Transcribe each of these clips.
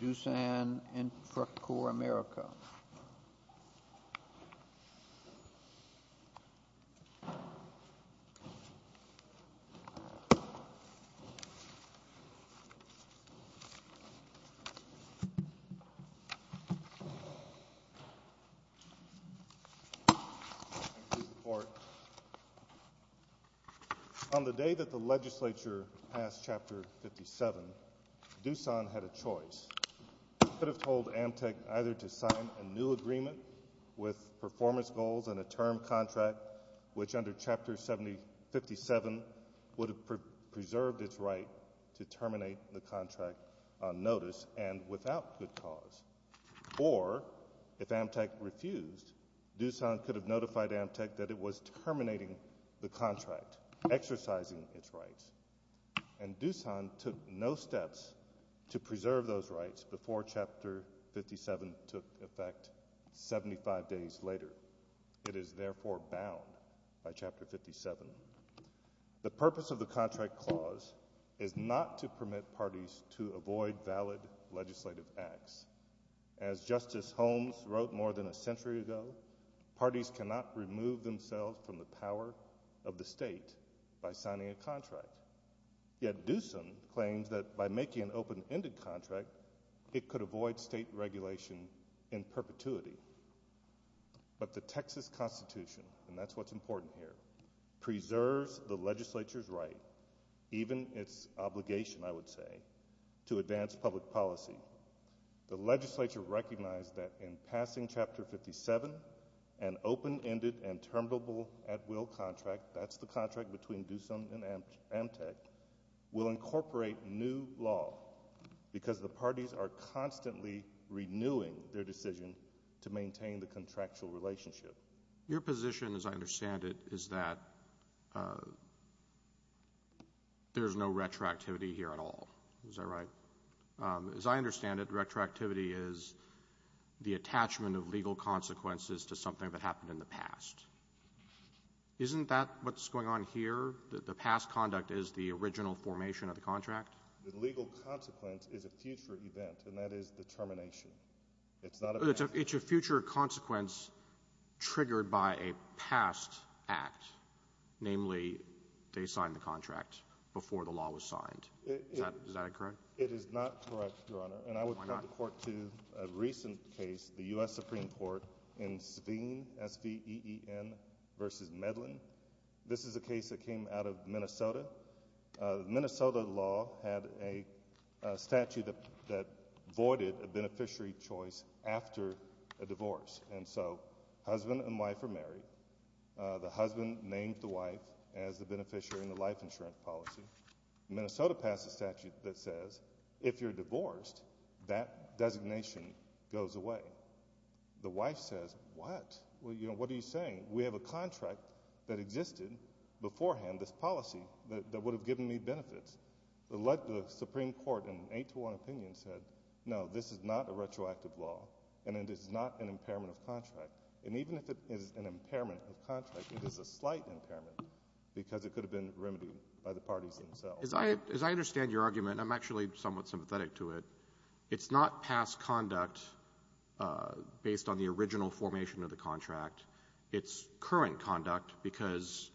Doosan Infracore America On the day that the legislature passed Chapter 57, Doosan had a choice. It could have told Amtec either to sign a new agreement with performance goals and a term contract which under Chapter 57 would have preserved its right to terminate the contract on notice and without good cause. Or, if Amtec refused, Doosan could have notified Amtec that it was terminating the contract, exercising its rights. And Doosan took no steps to preserve those rights before Chapter 57 took effect 75 days later. It is therefore bound by Chapter 57. The purpose of the contract clause is not to permit parties to avoid valid legislative acts. As Justice Holmes wrote more than a century ago, parties cannot remove themselves from the power of the state by signing a contract. Yet Doosan claims that by making an open-ended contract, it could avoid state regulation in perpetuity. But the Texas Constitution, and that's what's important here, preserves the legislature's right, even its obligation, I would say, to advance public policy. The legislature recognized that in passing Chapter 57, an open-ended and terminable at-will contract, that's the contract between Doosan and Amtec, will incorporate new law because the parties are constantly renewing their decision to maintain the contractual relationship. Your position, as I understand it, is that there's no retroactivity here at all. Is that right? As I understand it, retroactivity is the attachment of legal consequences to something that happened in the past. Isn't that what's going on here, that the past conduct is the original formation of the contract? The legal consequence is a future event, and that is the termination. It's not a... It's a future consequence triggered by a past act, namely they signed the contract before the law was signed. Is that correct? It is not correct, Your Honor. And I would point the Court to a recent case, the U.S. Supreme Court in Sveen, S-V-E-E-N, v. Medlin. This is a case that came out of Minnesota. The Minnesota law had a statute that voided a beneficiary choice after a divorce. And so husband and wife are married. The husband named the wife as the beneficiary in the life insurance policy. Minnesota passed a statute that says if you're divorced, that designation goes away. The wife says, what? What are you saying? We have a contract that existed beforehand, this policy, that would have given me benefits. The Supreme Court, in an 8-to-1 opinion, said, no, this is not a retroactive law, and it is not an impairment of contract. And even if it is an impairment of contract, it is a slight impairment because it could have been remedied by the parties themselves. As I understand your argument, I'm actually somewhat sympathetic to it, it's not past conduct based on the original formation of the contract. It's current conduct because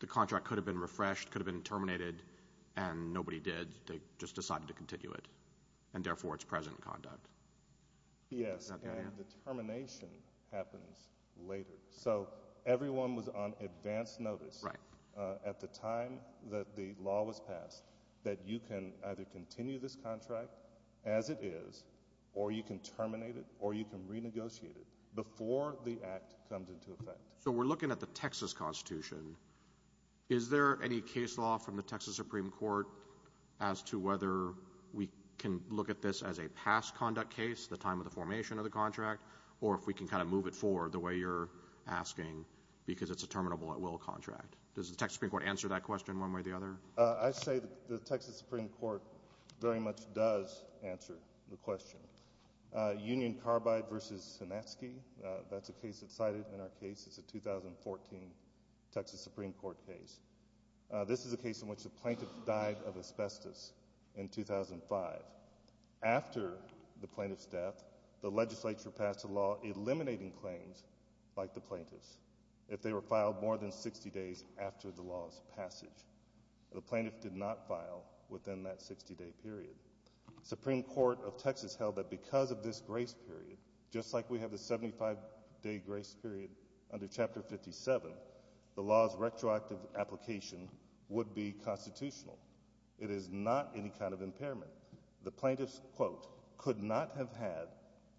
the contract could have been refreshed, could have been terminated, and nobody did. They just decided to continue it, and therefore it's present conduct. Yes, and the termination happens later. So everyone was on advance notice at the time that the law was passed that you can either continue this contract as it is, or you can terminate it, or you can renegotiate it before the act comes into effect. So we're looking at the Texas Constitution. Is there any case law from the Texas Supreme Court as to whether we can look at this as a past conduct case, the time of the formation of the contract, or if we can kind of move it forward the way you're asking because it's a terminable-at-will contract? Does the Texas Supreme Court answer that question one way or the other? I say the Texas Supreme Court very much does answer the question. Union Carbide v. Sinatsky, that's a case that's cited in our case. It's a 2014 Texas Supreme Court case. This is a case in which a plaintiff died of asbestos in 2005. After the plaintiff's death, the legislature passed a law eliminating claims like the plaintiff's if they were filed more than 60 days after the law's passage. The plaintiff did not file within that 60-day period. The Supreme Court of Texas held that because of this grace period, just like we have the 75-day grace period under Chapter 57, the law's retroactive application would be constitutional. It is not any kind of impairment. The plaintiff, quote, could not have had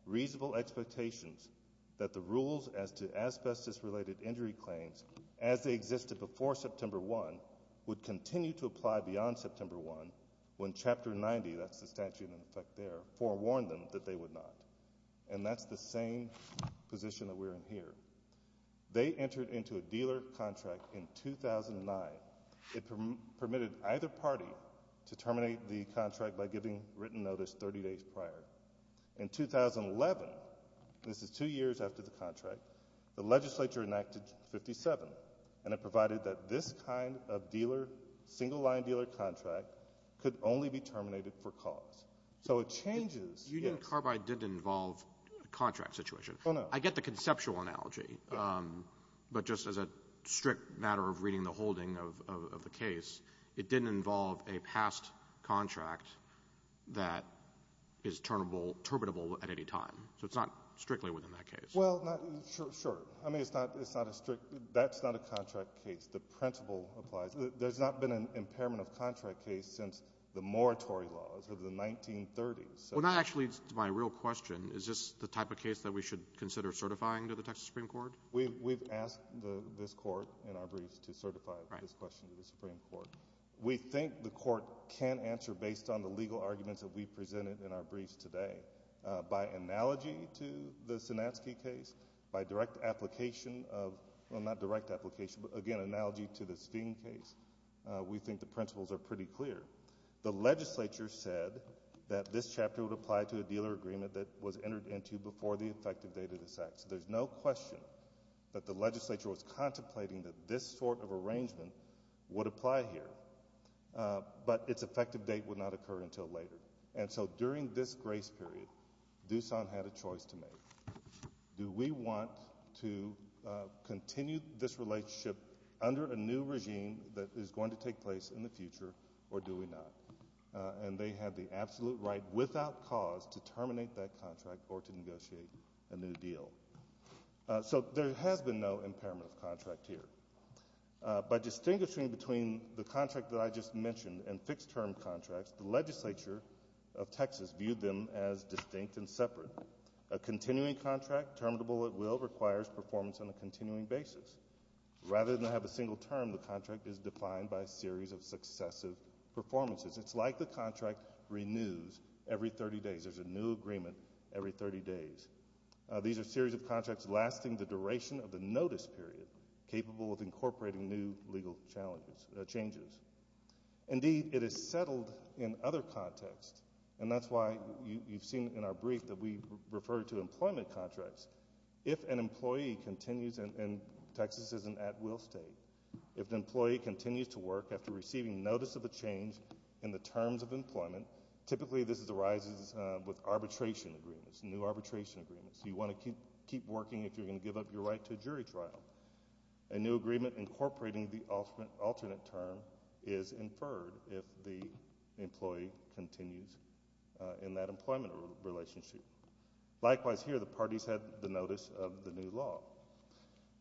reasonable expectations that the rules as to asbestos-related injury claims as they existed before September 1 would continue to apply beyond September 1 when Chapter 90, that's the statute in effect there, forewarned them that they would not. And that's the same position that we're in here. They entered into a dealer contract in 2009. It permitted either party to terminate the contract by giving written notice 30 days prior. In 2011, this is 2 years after the contract, the legislature enacted 57, and it provided that this kind of single-line dealer contract could only be terminated for cause. So it changes... Union Carbide didn't involve a contract situation. I get the conceptual analogy, but just as a strict matter of reading the holding of the case, it didn't involve a past contract that is terminable at any time. So it's not strictly within that case. Well, sure. I mean, it's not a strict... That's not a contract case. The principle applies. There's not been an impairment of contract case since the moratorium laws of the 1930s. Well, not actually, to my real question. Is this the type of case that we should consider certifying to the Texas Supreme Court? We've asked this court in our briefs to certify this question to the Supreme Court. We think the court can answer based on the legal arguments that we presented in our briefs today. By analogy to the Sinatsky case, by direct application of... Well, not direct application, but, again, analogy to the Sphine case, we think the principles are pretty clear. The legislature said that this chapter would apply to a dealer agreement that was entered into before the effective date of this act. So there's no question that the legislature was contemplating that this sort of arrangement would apply here, but its effective date would not occur until later. And so during this grace period, Doosan had a choice to make. Do we want to continue this relationship under a new regime that is going to take place in the future, or do we not? And they had the absolute right, without cause, to terminate that contract or to negotiate a new deal. So there has been no impairment of contract here. By distinguishing between the contract that I just mentioned and fixed-term contracts, the legislature of Texas viewed them as distinct and separate. A continuing contract, terminable at will, requires performance on a continuing basis. Rather than have a single term, the contract is defined by a series of successive performances. It's like the contract renews every 30 days. There's a new agreement every 30 days. These are a series of contracts lasting the duration of the notice period, capable of incorporating new legal changes. Indeed, it is settled in other contexts, and that's why you've seen in our brief that we refer to employment contracts. If an employee continues, and Texas is an at-will state, if an employee continues to work after receiving notice of a change in the terms of employment, typically this arises with arbitration agreements, new arbitration agreements. You want to keep working if you're going to give up your right to a jury trial. A new agreement incorporating the alternate term is inferred if the employee continues in that employment relationship. Likewise here, the parties have the notice of the new law.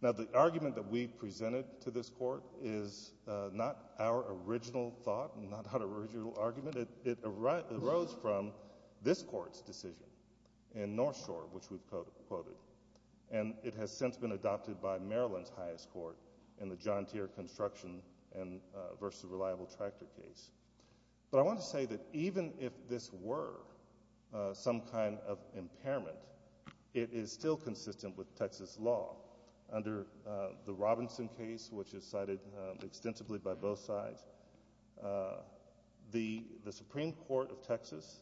Now, the argument that we've presented to this court is not our original thought, not our original argument. It arose from this court's decision in North Shore, which we've quoted, and it has since been adopted by Maryland's highest court in the John Deere Construction v. Reliable Tractor case. But I want to say that even if this were some kind of impairment, it is still consistent with Texas law. Under the Robinson case, which is cited extensively by both sides, the Supreme Court of Texas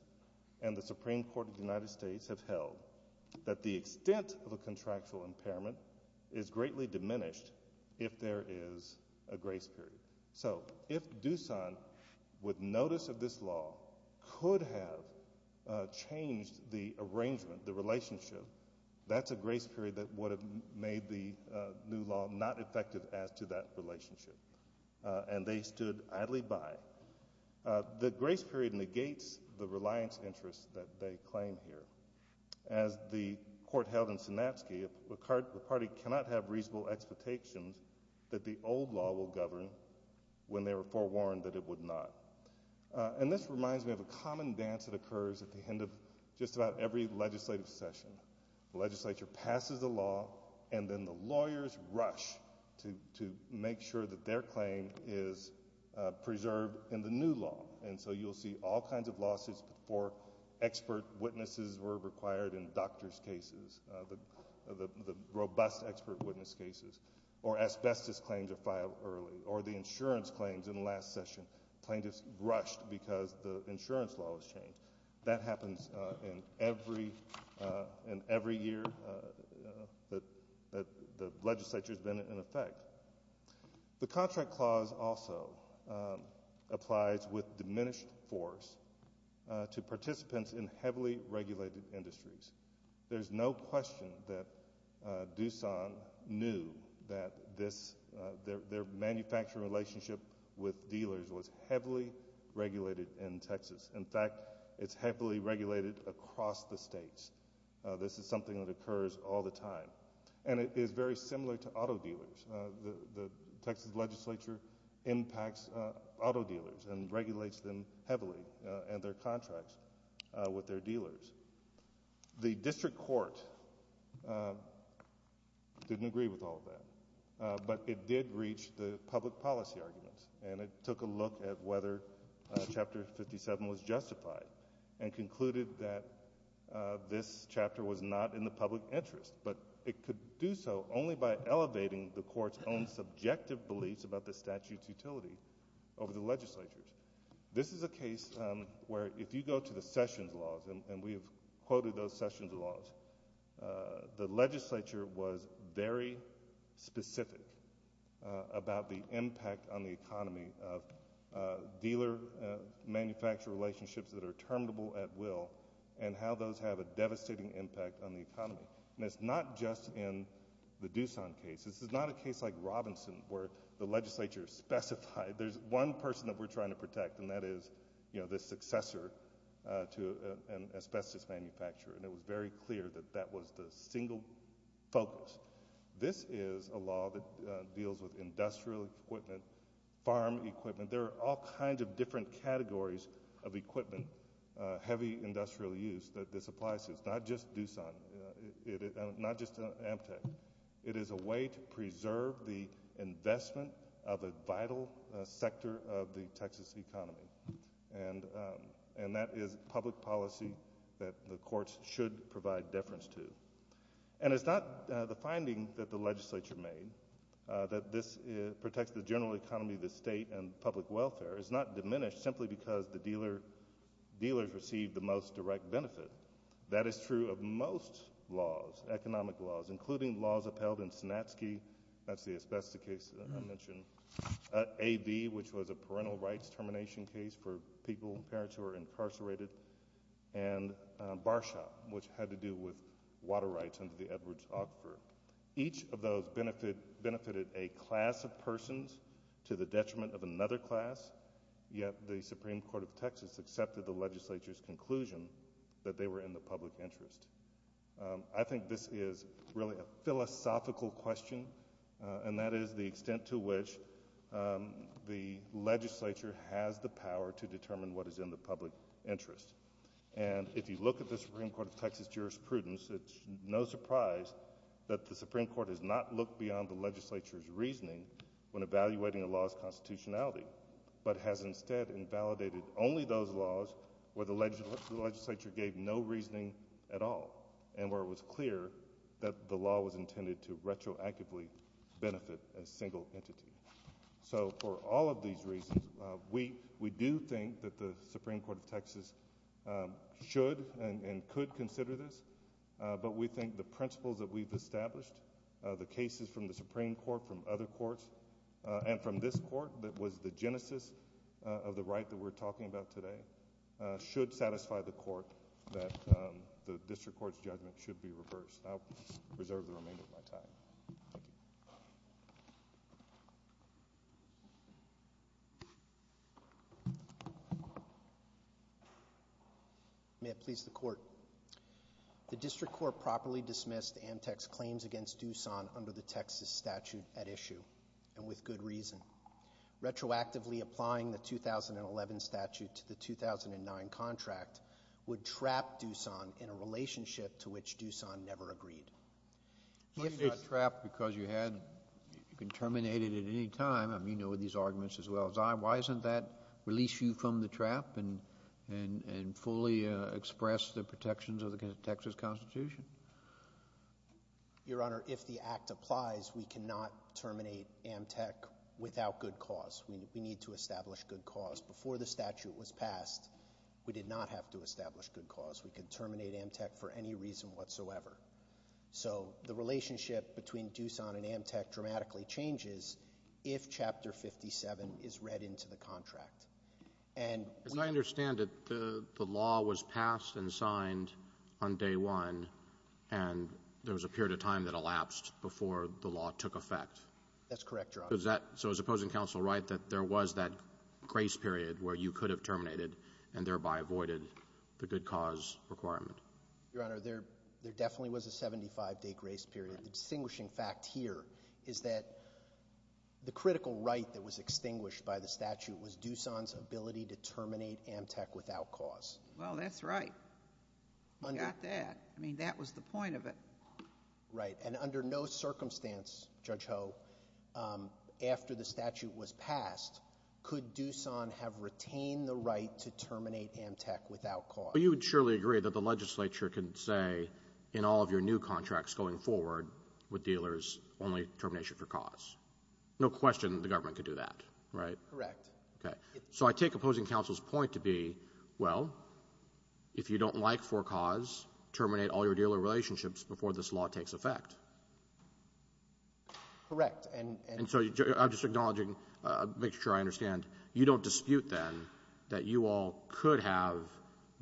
and the Supreme Court of the United States have held that the extent of a contractual impairment is greatly diminished if there is a grace period. So if Doosan, with notice of this law, could have changed the arrangement, the relationship, that's a grace period that would have made the new law not effective as to that relationship. And they stood idly by. The grace period negates the reliance interests that they claim here. As the court held in Sinatsky, the party cannot have reasonable expectations that the old law will govern when they were forewarned that it would not. And this reminds me of a common dance that occurs at the end of just about every legislative session. The legislature passes a law, and then the lawyers rush to make sure that their claim is preserved in the new law. And so you'll see all kinds of lawsuits before expert witnesses were required in doctors' cases, the robust expert witness cases, or asbestos claims are filed early, or the insurance claims in the last session. Plaintiffs rushed because the insurance law was changed. That happens in every year that the legislature's been in effect. The contract clause also applies with diminished force to participants in heavily regulated industries. There's no question that Doosan knew that their manufacturing relationship with dealers was heavily regulated in Texas. In fact, it's heavily regulated across the states. This is something that occurs all the time. And it is very similar to auto dealers. The Texas legislature impacts auto dealers and regulates them heavily and their contracts with their dealers. The district court didn't agree with all of that, but it did reach the public policy arguments, and it took a look at whether Chapter 57 was justified and concluded that this chapter was not in the public interest, but it could do so only by elevating the court's own subjective beliefs about the statute's utility over the legislature's. This is a case where if you go to the Sessions laws, and we have quoted those Sessions laws, the legislature was very specific about the impact on the economy of dealer-manufacturer relationships that are terminable at will and how those have a devastating impact on the economy. And it's not just in the Doosan case. This is not a case like Robinson where the legislature specified, there's one person that we're trying to protect, and that is the successor to an asbestos manufacturer. And it was very clear that that was the single focus. This is a law that deals with industrial equipment, farm equipment. There are all kinds of different categories of equipment, heavy industrial use, that this applies to. It's not just Doosan, not just Amtec. It is a way to preserve the investment of a vital sector of the Texas economy, and that is public policy that the courts should provide deference to. And it's not the finding that the legislature made that this protects the general economy of the state and public welfare. It's not diminished simply because the dealers receive the most direct benefit. That is true of most laws, economic laws, including laws upheld in Sinatsky. That's the asbestos case that I mentioned. AV, which was a parental rights termination case for people, parents who are incarcerated, and Barshop, which had to do with water rights under the Edwards-Ockford. Each of those benefited a class of persons to the detriment of another class, yet the Supreme Court of Texas accepted the legislature's conclusion that they were in the public interest. I think this is really a philosophical question, and that is the extent to which the legislature has the power to determine what is in the public interest. And if you look at the Supreme Court of Texas jurisprudence, it's no surprise that the Supreme Court has not looked beyond the legislature's reasoning when evaluating a law's constitutionality, but has instead invalidated only those laws where the legislature gave no reasoning at all and where it was clear that the law was intended to retroactively benefit a single entity. So for all of these reasons, we do think that the Supreme Court of Texas should and could consider this, but we think the principles that we've established, the cases from the Supreme Court, from other courts, and from this court that was the genesis of the right that we're talking about today, should satisfy the court that the district court's judgment should be reversed. I'll reserve the remainder of my time. Thank you. May it please the court. The district court properly dismissed Amtec's claims against Doosan under the Texas statute at issue, and with good reason. Retroactively applying the 2011 statute to the 2009 contract would trap Doosan in a relationship to which Doosan never agreed. So you got trapped because you had... You can terminate it at any time. You know these arguments as well as I. Why doesn't that release you from the trap and fully express the protections of the Texas Constitution? Your Honor, if the act applies, we cannot terminate Amtec without good cause. We need to establish good cause. Before the statute was passed, we did not have to establish good cause. We could terminate Amtec for any reason whatsoever. So the relationship between Doosan and Amtec dramatically changes if Chapter 57 is read into the contract. And... As I understand it, the law was passed and signed on day one, and there was a period of time that elapsed before the law took effect. That's correct, Your Honor. So is opposing counsel right that there was that grace period where you could have terminated and thereby avoided the good cause requirement? Your Honor, there definitely was a 75-day grace period. The distinguishing fact here is that the critical right that was extinguished by the statute was Doosan's ability to terminate Amtec without cause. Well, that's right. You got that. I mean, that was the point of it. Right. And under no circumstance, Judge Ho, after the statute was passed, could Doosan have retained the right to terminate Amtec without cause? Well, you would surely agree that the legislature can say in all of your new contracts going forward with dealers, only termination for cause. No question the government could do that, right? Correct. Okay. So I take opposing counsel's point to be, well, if you don't like for cause, terminate all your dealer relationships before this law takes effect. Correct. And so I'm just acknowledging, make sure I understand, you don't dispute then that you all could have,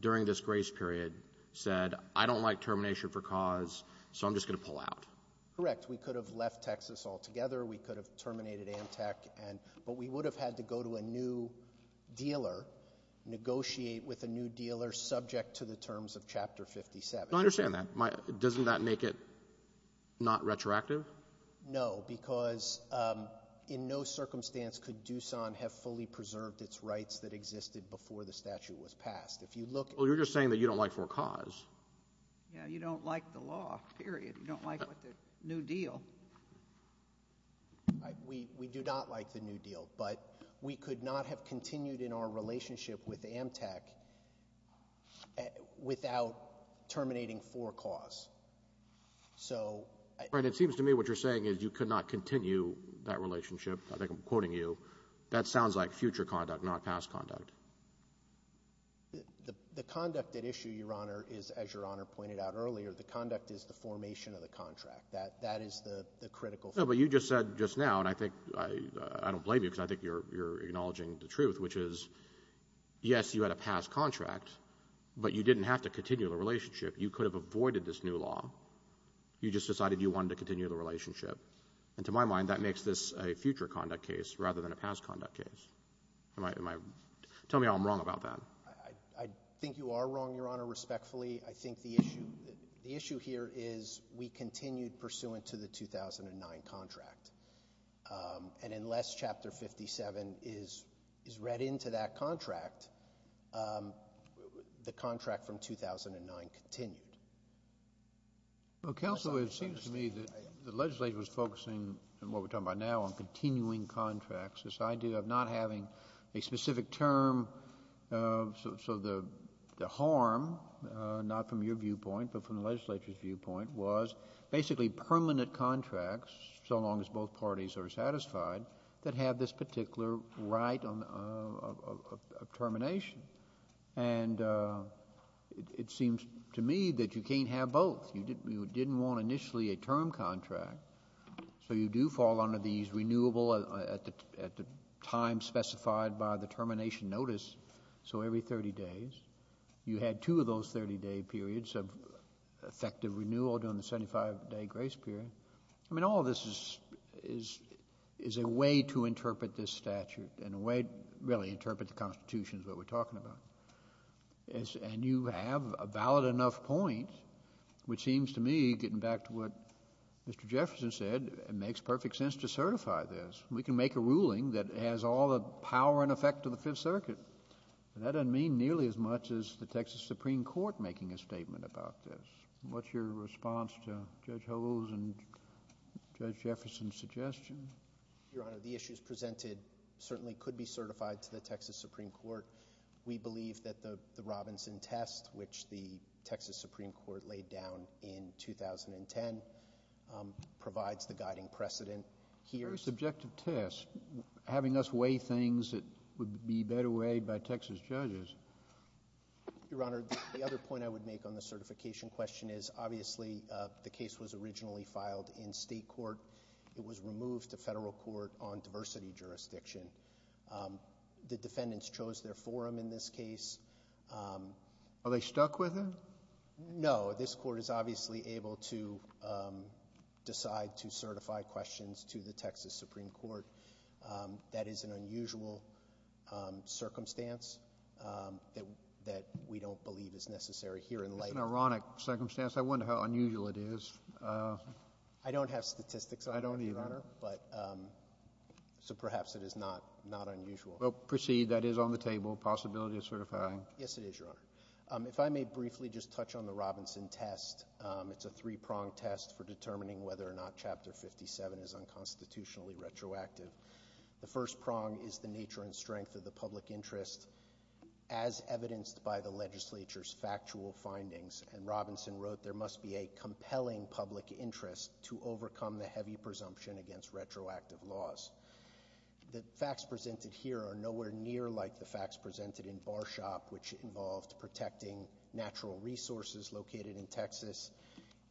during this grace period, said, I don't like termination for cause, so I'm just going to pull out. Correct. We could have left Texas altogether. We could have terminated Amtec, but we would have had to go to a new dealer, negotiate with a new dealer, subject to the terms of Chapter 57. I understand that. Doesn't that make it not retroactive? No, because in no circumstance could Doosan have fully preserved its rights that existed before the statute was passed. If you look at the law. Well, you're just saying that you don't like for cause. Yeah. You don't like the law, period. You don't like the new deal. We do not like the new deal, but we could not have continued in our relationship with Amtec without terminating for cause. So — All right. It seems to me what you're saying is you could not continue that relationship. I think I'm quoting you. That sounds like future conduct, not past conduct. The conduct at issue, Your Honor, is, as Your Honor pointed out earlier, the conduct is the formation of the contract. That is the critical — No, but you just said just now, and I think I don't blame you because I think you're acknowledging the truth, which is, yes, you had a past contract, but you didn't have to continue the relationship. You could have avoided this new law. You just decided you wanted to continue the relationship. And to my mind, that makes this a future conduct case rather than a past conduct case. Am I — tell me how I'm wrong about that. I think you are wrong, Your Honor, respectfully. I think the issue — the issue here is we continued pursuant to the 2009 contract. And unless Chapter 57 is read into that contract, the contract from 2009 continued. Counsel, it seems to me that the legislature is focusing on what we're talking about now, on continuing contracts. This idea of not having a specific term, so the harm, not from your viewpoint, but from the legislature's viewpoint, was basically permanent contracts, so long as both parties are satisfied, that have this particular right of termination. And it seems to me that you can't have both. You didn't want initially a term contract, so you do fall under these renewable at the time specified by the termination notice, so every 30 days. You had two of those 30-day periods of effective renewal during the 75-day grace period. I mean, all this is a way to interpret this statute and a way to really interpret the Constitution is what we're talking about. And you have a valid enough point, which seems to me, getting back to what Mr. Jefferson said, it makes perfect sense to certify this. We can make a ruling that has all the power and effect of the Fifth Circuit, but that doesn't mean nearly as much as the Texas Supreme Court making a statement about this. What's your response to Judge Hogan's and Judge Jefferson's suggestion? Your Honor, the issues presented certainly could be certified to the Texas Supreme Court. We believe that the Robinson test, which the Texas Supreme Court laid down in 2010, provides the guiding precedent here. Very subjective test. Having us weigh things that would be better weighed by Texas judges. Your Honor, the other point I would make on the certification question is, obviously, the case was originally filed in state court. It was removed to federal court on diversity jurisdiction. The defendants chose their forum in this case. Are they stuck with it? No. This court is obviously able to decide to certify questions to the Texas Supreme Court. That is an unusual circumstance that we don't believe is necessary here in life. That's an ironic circumstance. I wonder how unusual it is. I don't have statistics on that, Your Honor. I don't either. So perhaps it is not unusual. Proceed. That is on the table, possibility of certifying. Yes, it is, Your Honor. If I may briefly just touch on the Robinson test. It's a three-pronged test for determining whether or not Chapter 57 is unconstitutionally retroactive. The first prong is the nature and strength of the public interest as evidenced by the legislature's factual findings. And Robinson wrote, there must be a compelling public interest to overcome the heavy presumption against retroactive laws. The facts presented here are nowhere near like the facts presented in Barshop, which involved protecting natural resources located in Texas,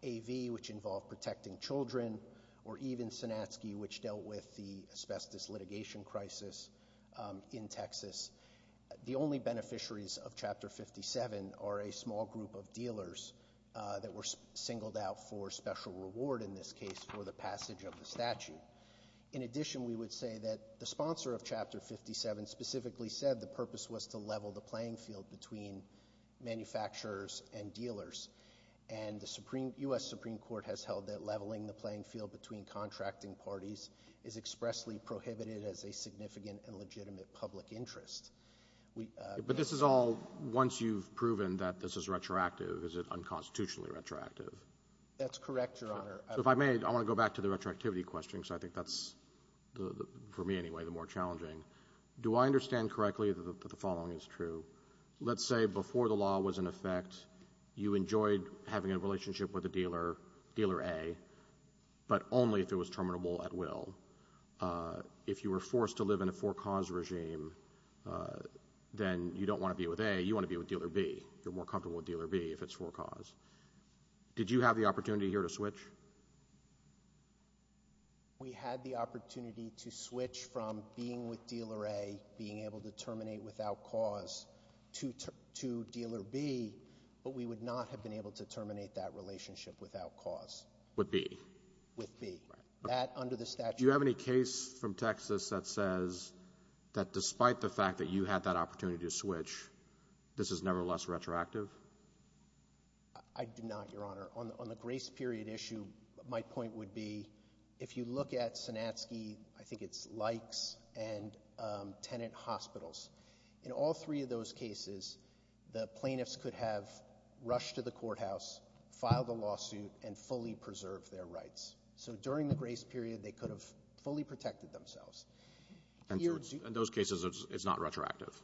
AV, which involved protecting children, or even Sinatsky, which dealt with the asbestos litigation crisis in Texas. The only beneficiaries of Chapter 57 are a small group of dealers that were singled out for special reward, in this case for the passage of the statute. In addition, we would say that the sponsor of Chapter 57 specifically said the purpose was to level the playing field between manufacturers and dealers. And the U.S. Supreme Court has held that leveling the playing field between contracting parties is expressly prohibited as a significant and legitimate public interest. But this is all once you've proven that this is retroactive. Is it unconstitutionally retroactive? That's correct, Your Honor. If I may, I want to go back to the retroactivity question because I think that's, for me anyway, the more challenging. Do I understand correctly that the following is true? Let's say before the law was in effect, you enjoyed having a relationship with a dealer, Dealer A, but only if it was terminable at will. If you were forced to live in a four-cause regime, then you don't want to be with A, you want to be with Dealer B. You're more comfortable with Dealer B if it's four-cause. Did you have the opportunity here to switch? We had the opportunity to switch from being with Dealer A, being able to terminate without cause, to Dealer B, but we would not have been able to terminate that relationship without cause. With B. With B. That, under the statute... Do you have any case from Texas that says that despite the fact that you had that opportunity to switch, this is nevertheless retroactive? I do not, Your Honor. On the grace period issue, my point would be, if you look at Sanatsky, I think it's Lykes and Tenet Hospitals, in all three of those cases, the plaintiffs could have rushed to the courthouse, filed a lawsuit, and fully preserved their rights. So during the grace period, they could have fully protected themselves. And in those cases, it's not retroactive?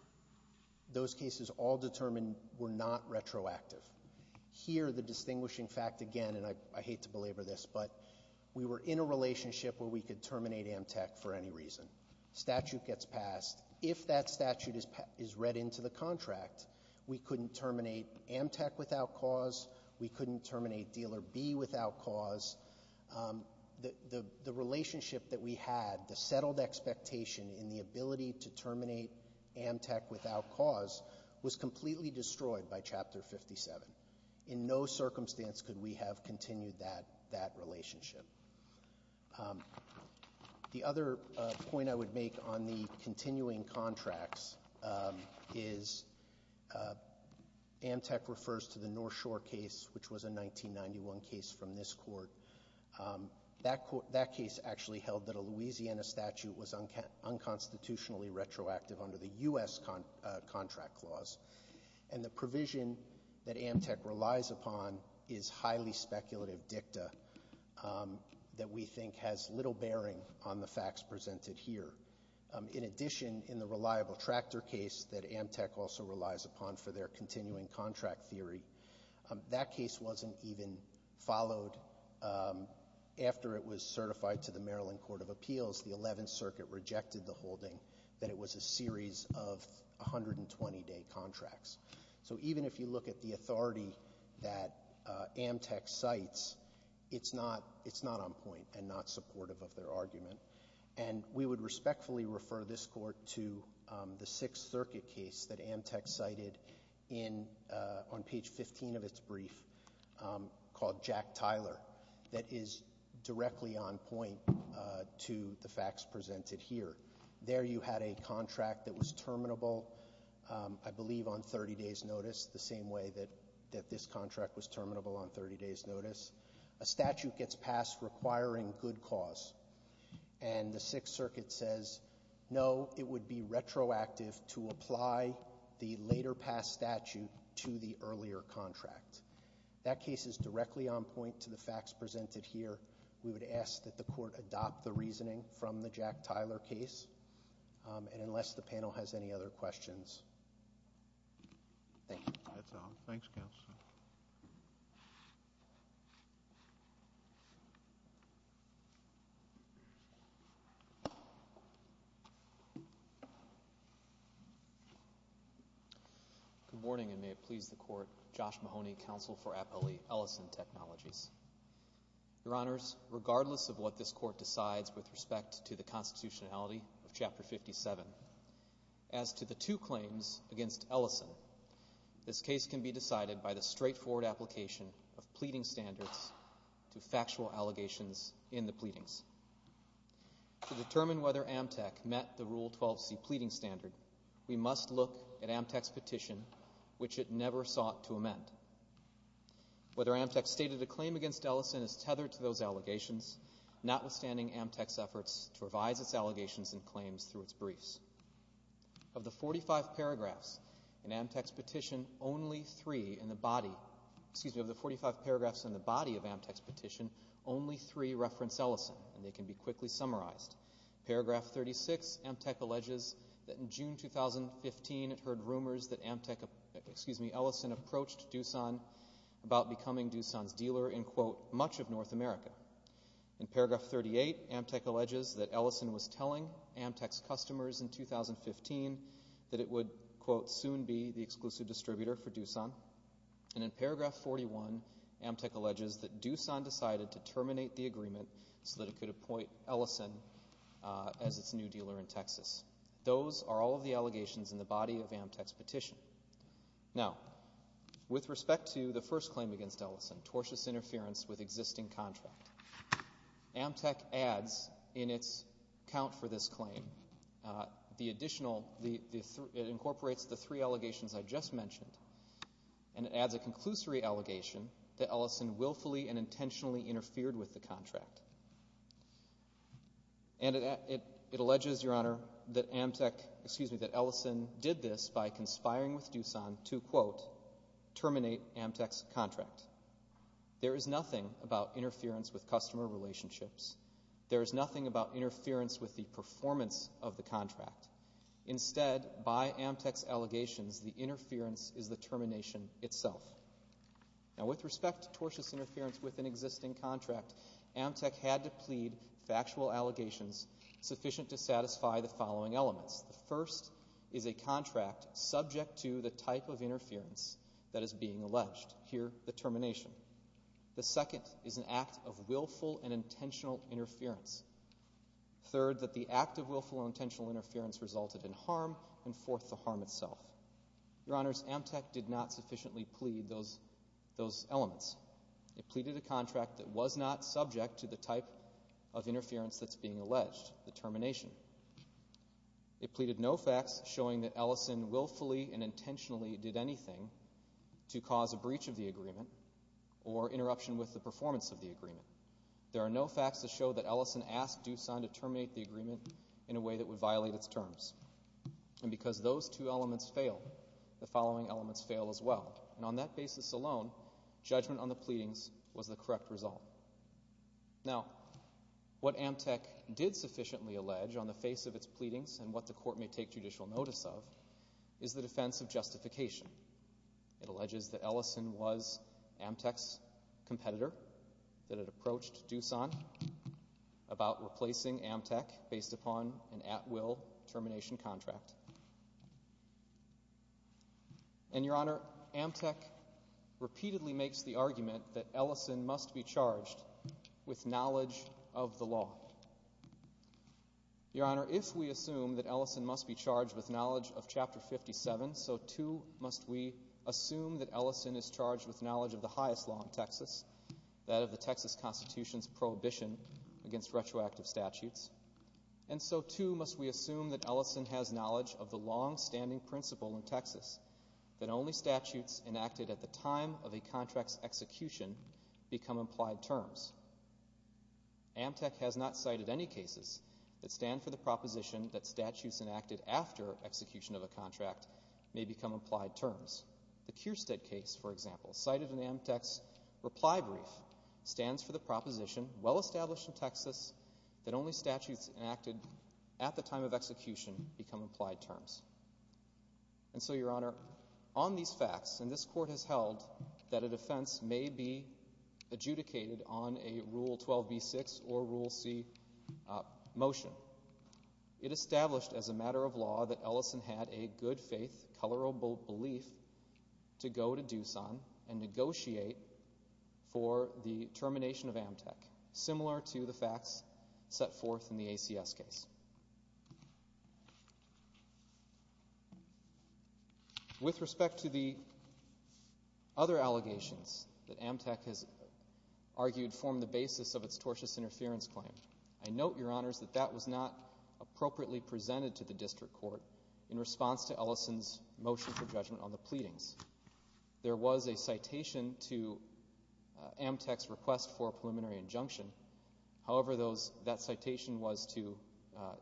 Those cases all determined were not retroactive. Here, the distinguishing fact again, and I hate to belabor this, but we were in a relationship where we could terminate Amtec for any reason. Statute gets passed. If that statute is read into the contract, we couldn't terminate Amtec without cause, we couldn't terminate Dealer B without cause. The relationship that we had, the settled expectation in the ability to terminate Amtec without cause, was completely destroyed by Chapter 57. In no circumstance could we have continued that relationship. The other point I would make on the continuing contracts is Amtec refers to the North Shore case, which was a 1991 case from this court. That case actually held that a Louisiana statute was unconstitutionally retroactive under the U.S. contract clause. And the provision that Amtec relies upon is highly speculative dicta that we think has little bearing on the facts presented here. In addition, in the reliable tractor case that Amtec also relies upon for their continuing contract theory, that case wasn't even followed. After it was certified to the Maryland Court of Appeals, the Eleventh Circuit rejected the holding that it was a series of 120-day contracts. So even if you look at the authority that Amtec cites, it's not on point and not supportive of their argument. And we would respectfully refer this court to the Sixth Circuit case that Amtec cited on page 15 of its brief called Jack Tyler that is directly on point to the facts presented here. There you had a contract that was terminable, I believe, on 30 days' notice, the same way that this contract was terminable on 30 days' notice. A statute gets passed requiring good cause, and the Sixth Circuit says, no, it would be retroactive to apply the later-passed statute to the earlier contract. That case is directly on point to the facts presented here. We would ask that the court adopt the reasoning from the Jack Tyler case. And unless the panel has any other questions... Thank you. That's all. Thanks, Counsel. Good morning, and may it please the Court, Josh Mahoney, Counsel for Appellee Ellison Technologies. Your Honors, regardless of what this Court decides with respect to the constitutionality of Chapter 57, as to the two claims against Ellison, this case can be decided by the straightforward application of pleading standards to factual allegations in the pleadings. To determine whether Amtec met the Rule 12c pleading standard, we must look at Amtec's petition, which it never sought to amend. Whether Amtec stated a claim against Ellison is tethered to those allegations, notwithstanding Amtec's efforts to revise its allegations and claims through its briefs. Of the 45 paragraphs in Amtec's petition, only three in the body... Excuse me, of the 45 paragraphs in the body of Amtec's petition, only three reference Ellison, and they can be quickly summarized. Paragraph 36, Amtec alleges that in June 2015, it heard rumors that Amtec... Excuse me, Ellison approached Doosan about becoming Doosan's dealer in, quote, much of North America. In paragraph 38, Amtec alleges that Ellison was telling Amtec's customers in 2015 that it would, quote, soon be the exclusive distributor for Doosan. And in paragraph 41, Amtec alleges that Doosan decided to terminate the agreement so that it could appoint Ellison as its new dealer in Texas. Those are all of the allegations in the body of Amtec's petition. Now, with respect to the first claim against Ellison, tortuous interference with existing contract, Amtec adds in its account for this claim the additional... It incorporates the three allegations I just mentioned, and it adds a conclusory allegation that Ellison willfully and intentionally interfered with the contract. And it alleges, Your Honor, that Amtec... Excuse me, that Ellison did this by conspiring with Doosan to, quote, terminate Amtec's contract. There is nothing about interference with customer relationships. There is nothing about interference with the performance of the contract. Instead, by Amtec's allegations, the interference is the termination itself. Now, with respect to tortuous interference with an existing contract, Amtec had to plead factual allegations sufficient to satisfy the following elements. The first is a contract subject to the type of interference that is being alleged. Here, the termination. The second is an act of willful and intentional interference. Third, that the act of willful and intentional interference resulted in harm. And fourth, the harm itself. Your Honors, Amtec did not sufficiently plead those elements. It pleaded a contract that was not subject to the type of interference that's being alleged, the termination. It pleaded no facts showing that Ellison willfully and intentionally did anything to cause a breach of the agreement or interruption with the performance of the agreement. There are no facts to show that Ellison asked Doosan to terminate the agreement in a way that would violate its terms. And because those two elements fail, the following elements fail as well. And on that basis alone, judgment on the pleadings was the correct result. Now, what Amtec did sufficiently allege on the face of its pleadings and what the court may take judicial notice of is the defense of justification. It alleges that Ellison was Amtec's competitor, that it approached Doosan about replacing Amtec based upon an at-will termination contract. And, Your Honor, Amtec repeatedly makes the argument that Ellison must be charged with knowledge of the law. Your Honor, if we assume that Ellison must be charged with knowledge of Chapter 57, so, too, must we assume that Ellison is charged with knowledge of the highest law in Texas, that of the Texas Constitution's prohibition against retroactive statutes. And so, too, must we assume that Ellison has knowledge of the long-standing principle in Texas that only statutes enacted at the time of a contract's execution become implied terms. Amtec has not cited any cases that stand for the proposition that statutes enacted after execution of a contract may become implied terms. The Kirstead case, for example, cited in Amtec's reply brief, stands for the proposition, well-established in Texas, that only statutes enacted at the time of execution become implied terms. And so, Your Honor, on these facts, and this court has held that a defense may be adjudicated on a Rule 12b-6 or Rule C motion, it established as a matter of law that Ellison had a good-faith, colorable belief to go to Doosan and negotiate for the termination of Amtec, similar to the facts set forth in the ACS case. With respect to the other allegations that Amtec has argued form the basis of its tortuous interference claim, I note, Your Honors, that that was not appropriately presented to the district court in response to Ellison's motion for judgment on the pleadings. There was a citation to Amtec's request for a preliminary injunction. However, that citation was to have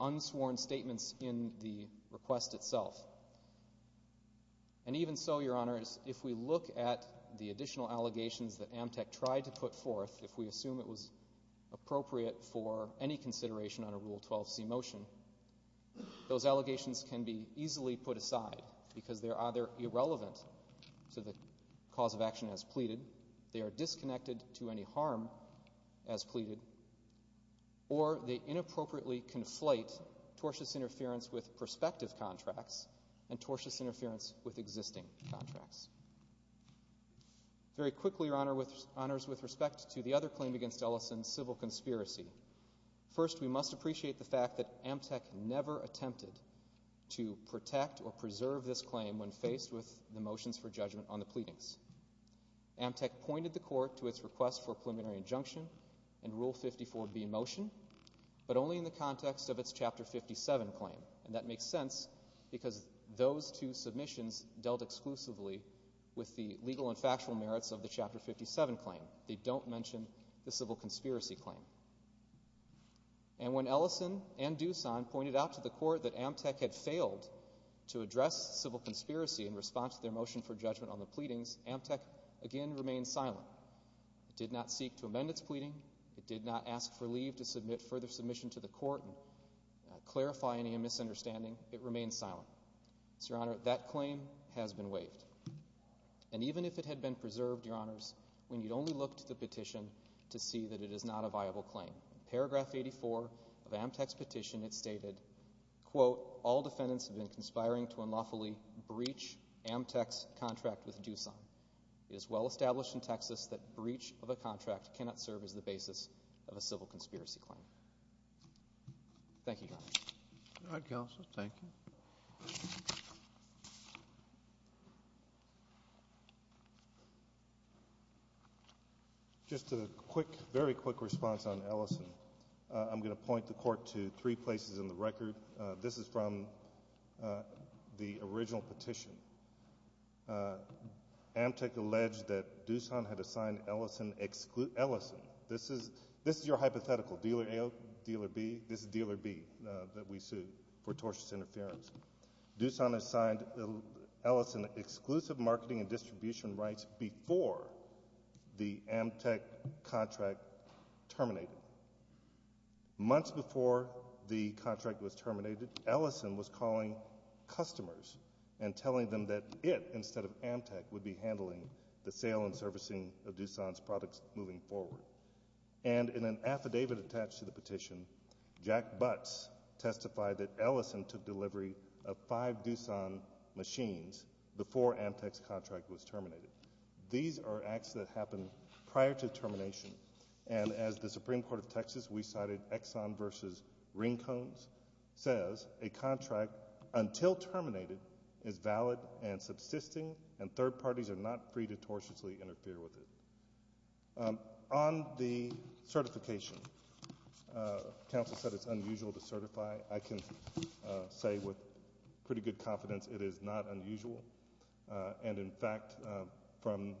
unsworn statements in the request itself. And even so, Your Honors, if we look at the additional allegations that Amtec tried to put forth, if we assume it was appropriate for any consideration on a Rule 12c motion, those allegations can be easily put aside because they're either irrelevant to the cause of action as pleaded, they are disconnected to any harm as pleaded, or they inappropriately conflate tortuous interference with prospective contracts and tortuous interference with existing contracts. Very quickly, Your Honors, with respect to the other claim against Ellison's civil conspiracy, first, we must appreciate the fact that Amtec never attempted to protect or preserve this claim when faced with the motions for judgment on the pleadings. Amtec pointed the court to its request for Rule 54 be in motion, but only in the context of its Chapter 57 claim, and that makes sense because those two submissions dealt exclusively with the legal and factual merits of the Chapter 57 claim. They don't mention the civil conspiracy claim. And when Ellison and Dusan pointed out to the court that Amtec had failed to address civil conspiracy in response to their motion for judgment on the pleadings, Amtec again remained silent. It did not seek to amend its pleading. It did not ask for leave to submit further submission to the court and clarify any misunderstanding. It remained silent. So, Your Honor, that claim has been waived. And even if it had been preserved, Your Honors, when you'd only looked at the petition to see that it is not a viable claim, paragraph 84 of Amtec's petition, it stated, quote, all defendants have been conspiring to unlawfully breach Amtec's contract with Dusan. It is well established in Texas that breach of a contract cannot serve as the basis of a civil conspiracy claim. Thank you, Your Honor. Just a quick, very quick response on Ellison. I'm going to point the court to three places in the record. This is from the original petition. Amtec alleged that Dusan had assigned Ellison this is your hypothetical, Dealer A, Dealer B, this is Dealer B that we sued for tortious interference. Dusan assigned Ellison exclusive marketing and distribution rights before the Amtec contract terminated. Months before the contract was terminated, Ellison was calling customers and telling them that it, instead of Amtec, would be handling the sale and servicing of Dusan's products moving forward. And in an affidavit attached to the petition, Jack Butts testified that Ellison took delivery of five Dusan machines before Amtec's contract was terminated. These are acts that happened prior to termination, and as the Supreme Court of Texas, we cited Exxon versus Rincones, says a contract until terminated is valid and subsisting, and third parties are not free to tortiously interfere with it. On the certification, counsel said it's unusual to certify. I can say with pretty good confidence it is not unusual. And in fact, from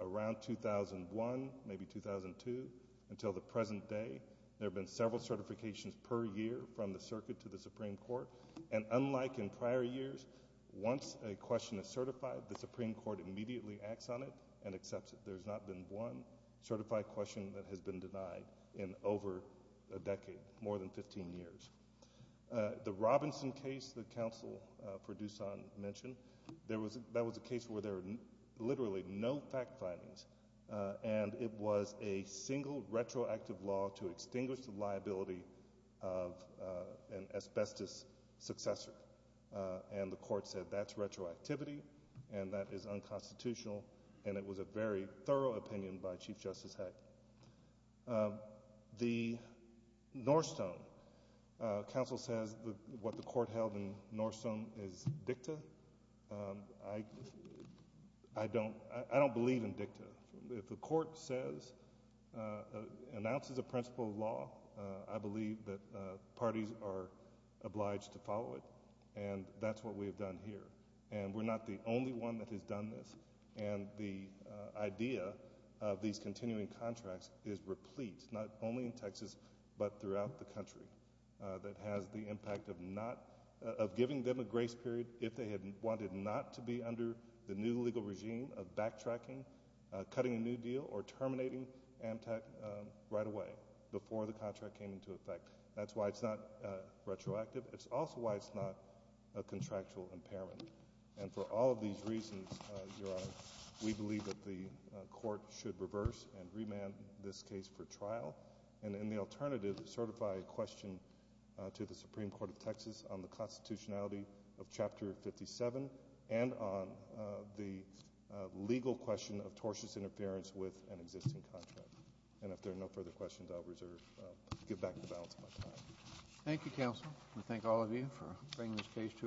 around 2001, maybe 2002, until the present day, there have been several certifications per year from the circuit to the Supreme Court, and unlike in prior years, once a question is certified, the Supreme Court immediately acts on it and accepts it. There's not been one certified question that has been denied in over a decade, more than 15 years. The Robinson case that counsel for Dusan mentioned, that was a case where there were literally no fact findings, and it was a single retroactive law to extinguish the liability of an asbestos successor, and the court said that's retroactivity, and that is unconstitutional, and it was a very thorough opinion by Chief Justice Heck. The Northstone, counsel says what the court held in Northstone is dicta. I don't believe in dicta. If the court says, announces a principle of law, I believe that parties are obliged to follow it, and that's what we have done here, and we're not the only one that has done this, and the idea of these continuing contracts is replete, not only in Texas, but throughout the country, that has the impact of not, of giving them a grace period if they had wanted not to be under the new legal regime of backtracking, cutting a new deal, or terminating Amtrak right away, before the contract came into effect. That's why it's not retroactive. It's also why it's not a contractual impairment, and for all of these reasons, Your Honor, we believe that the court should reverse and remand this case for trial, and in the alternative, certify a question to the Supreme Court of Texas on the constitutionality of Chapter 57, and on the legal question of tortious interference with an existing contract. And if there are no further questions, I'll give back the balance of my time. Thank you, Counsel. We thank all of you for bringing this case to us.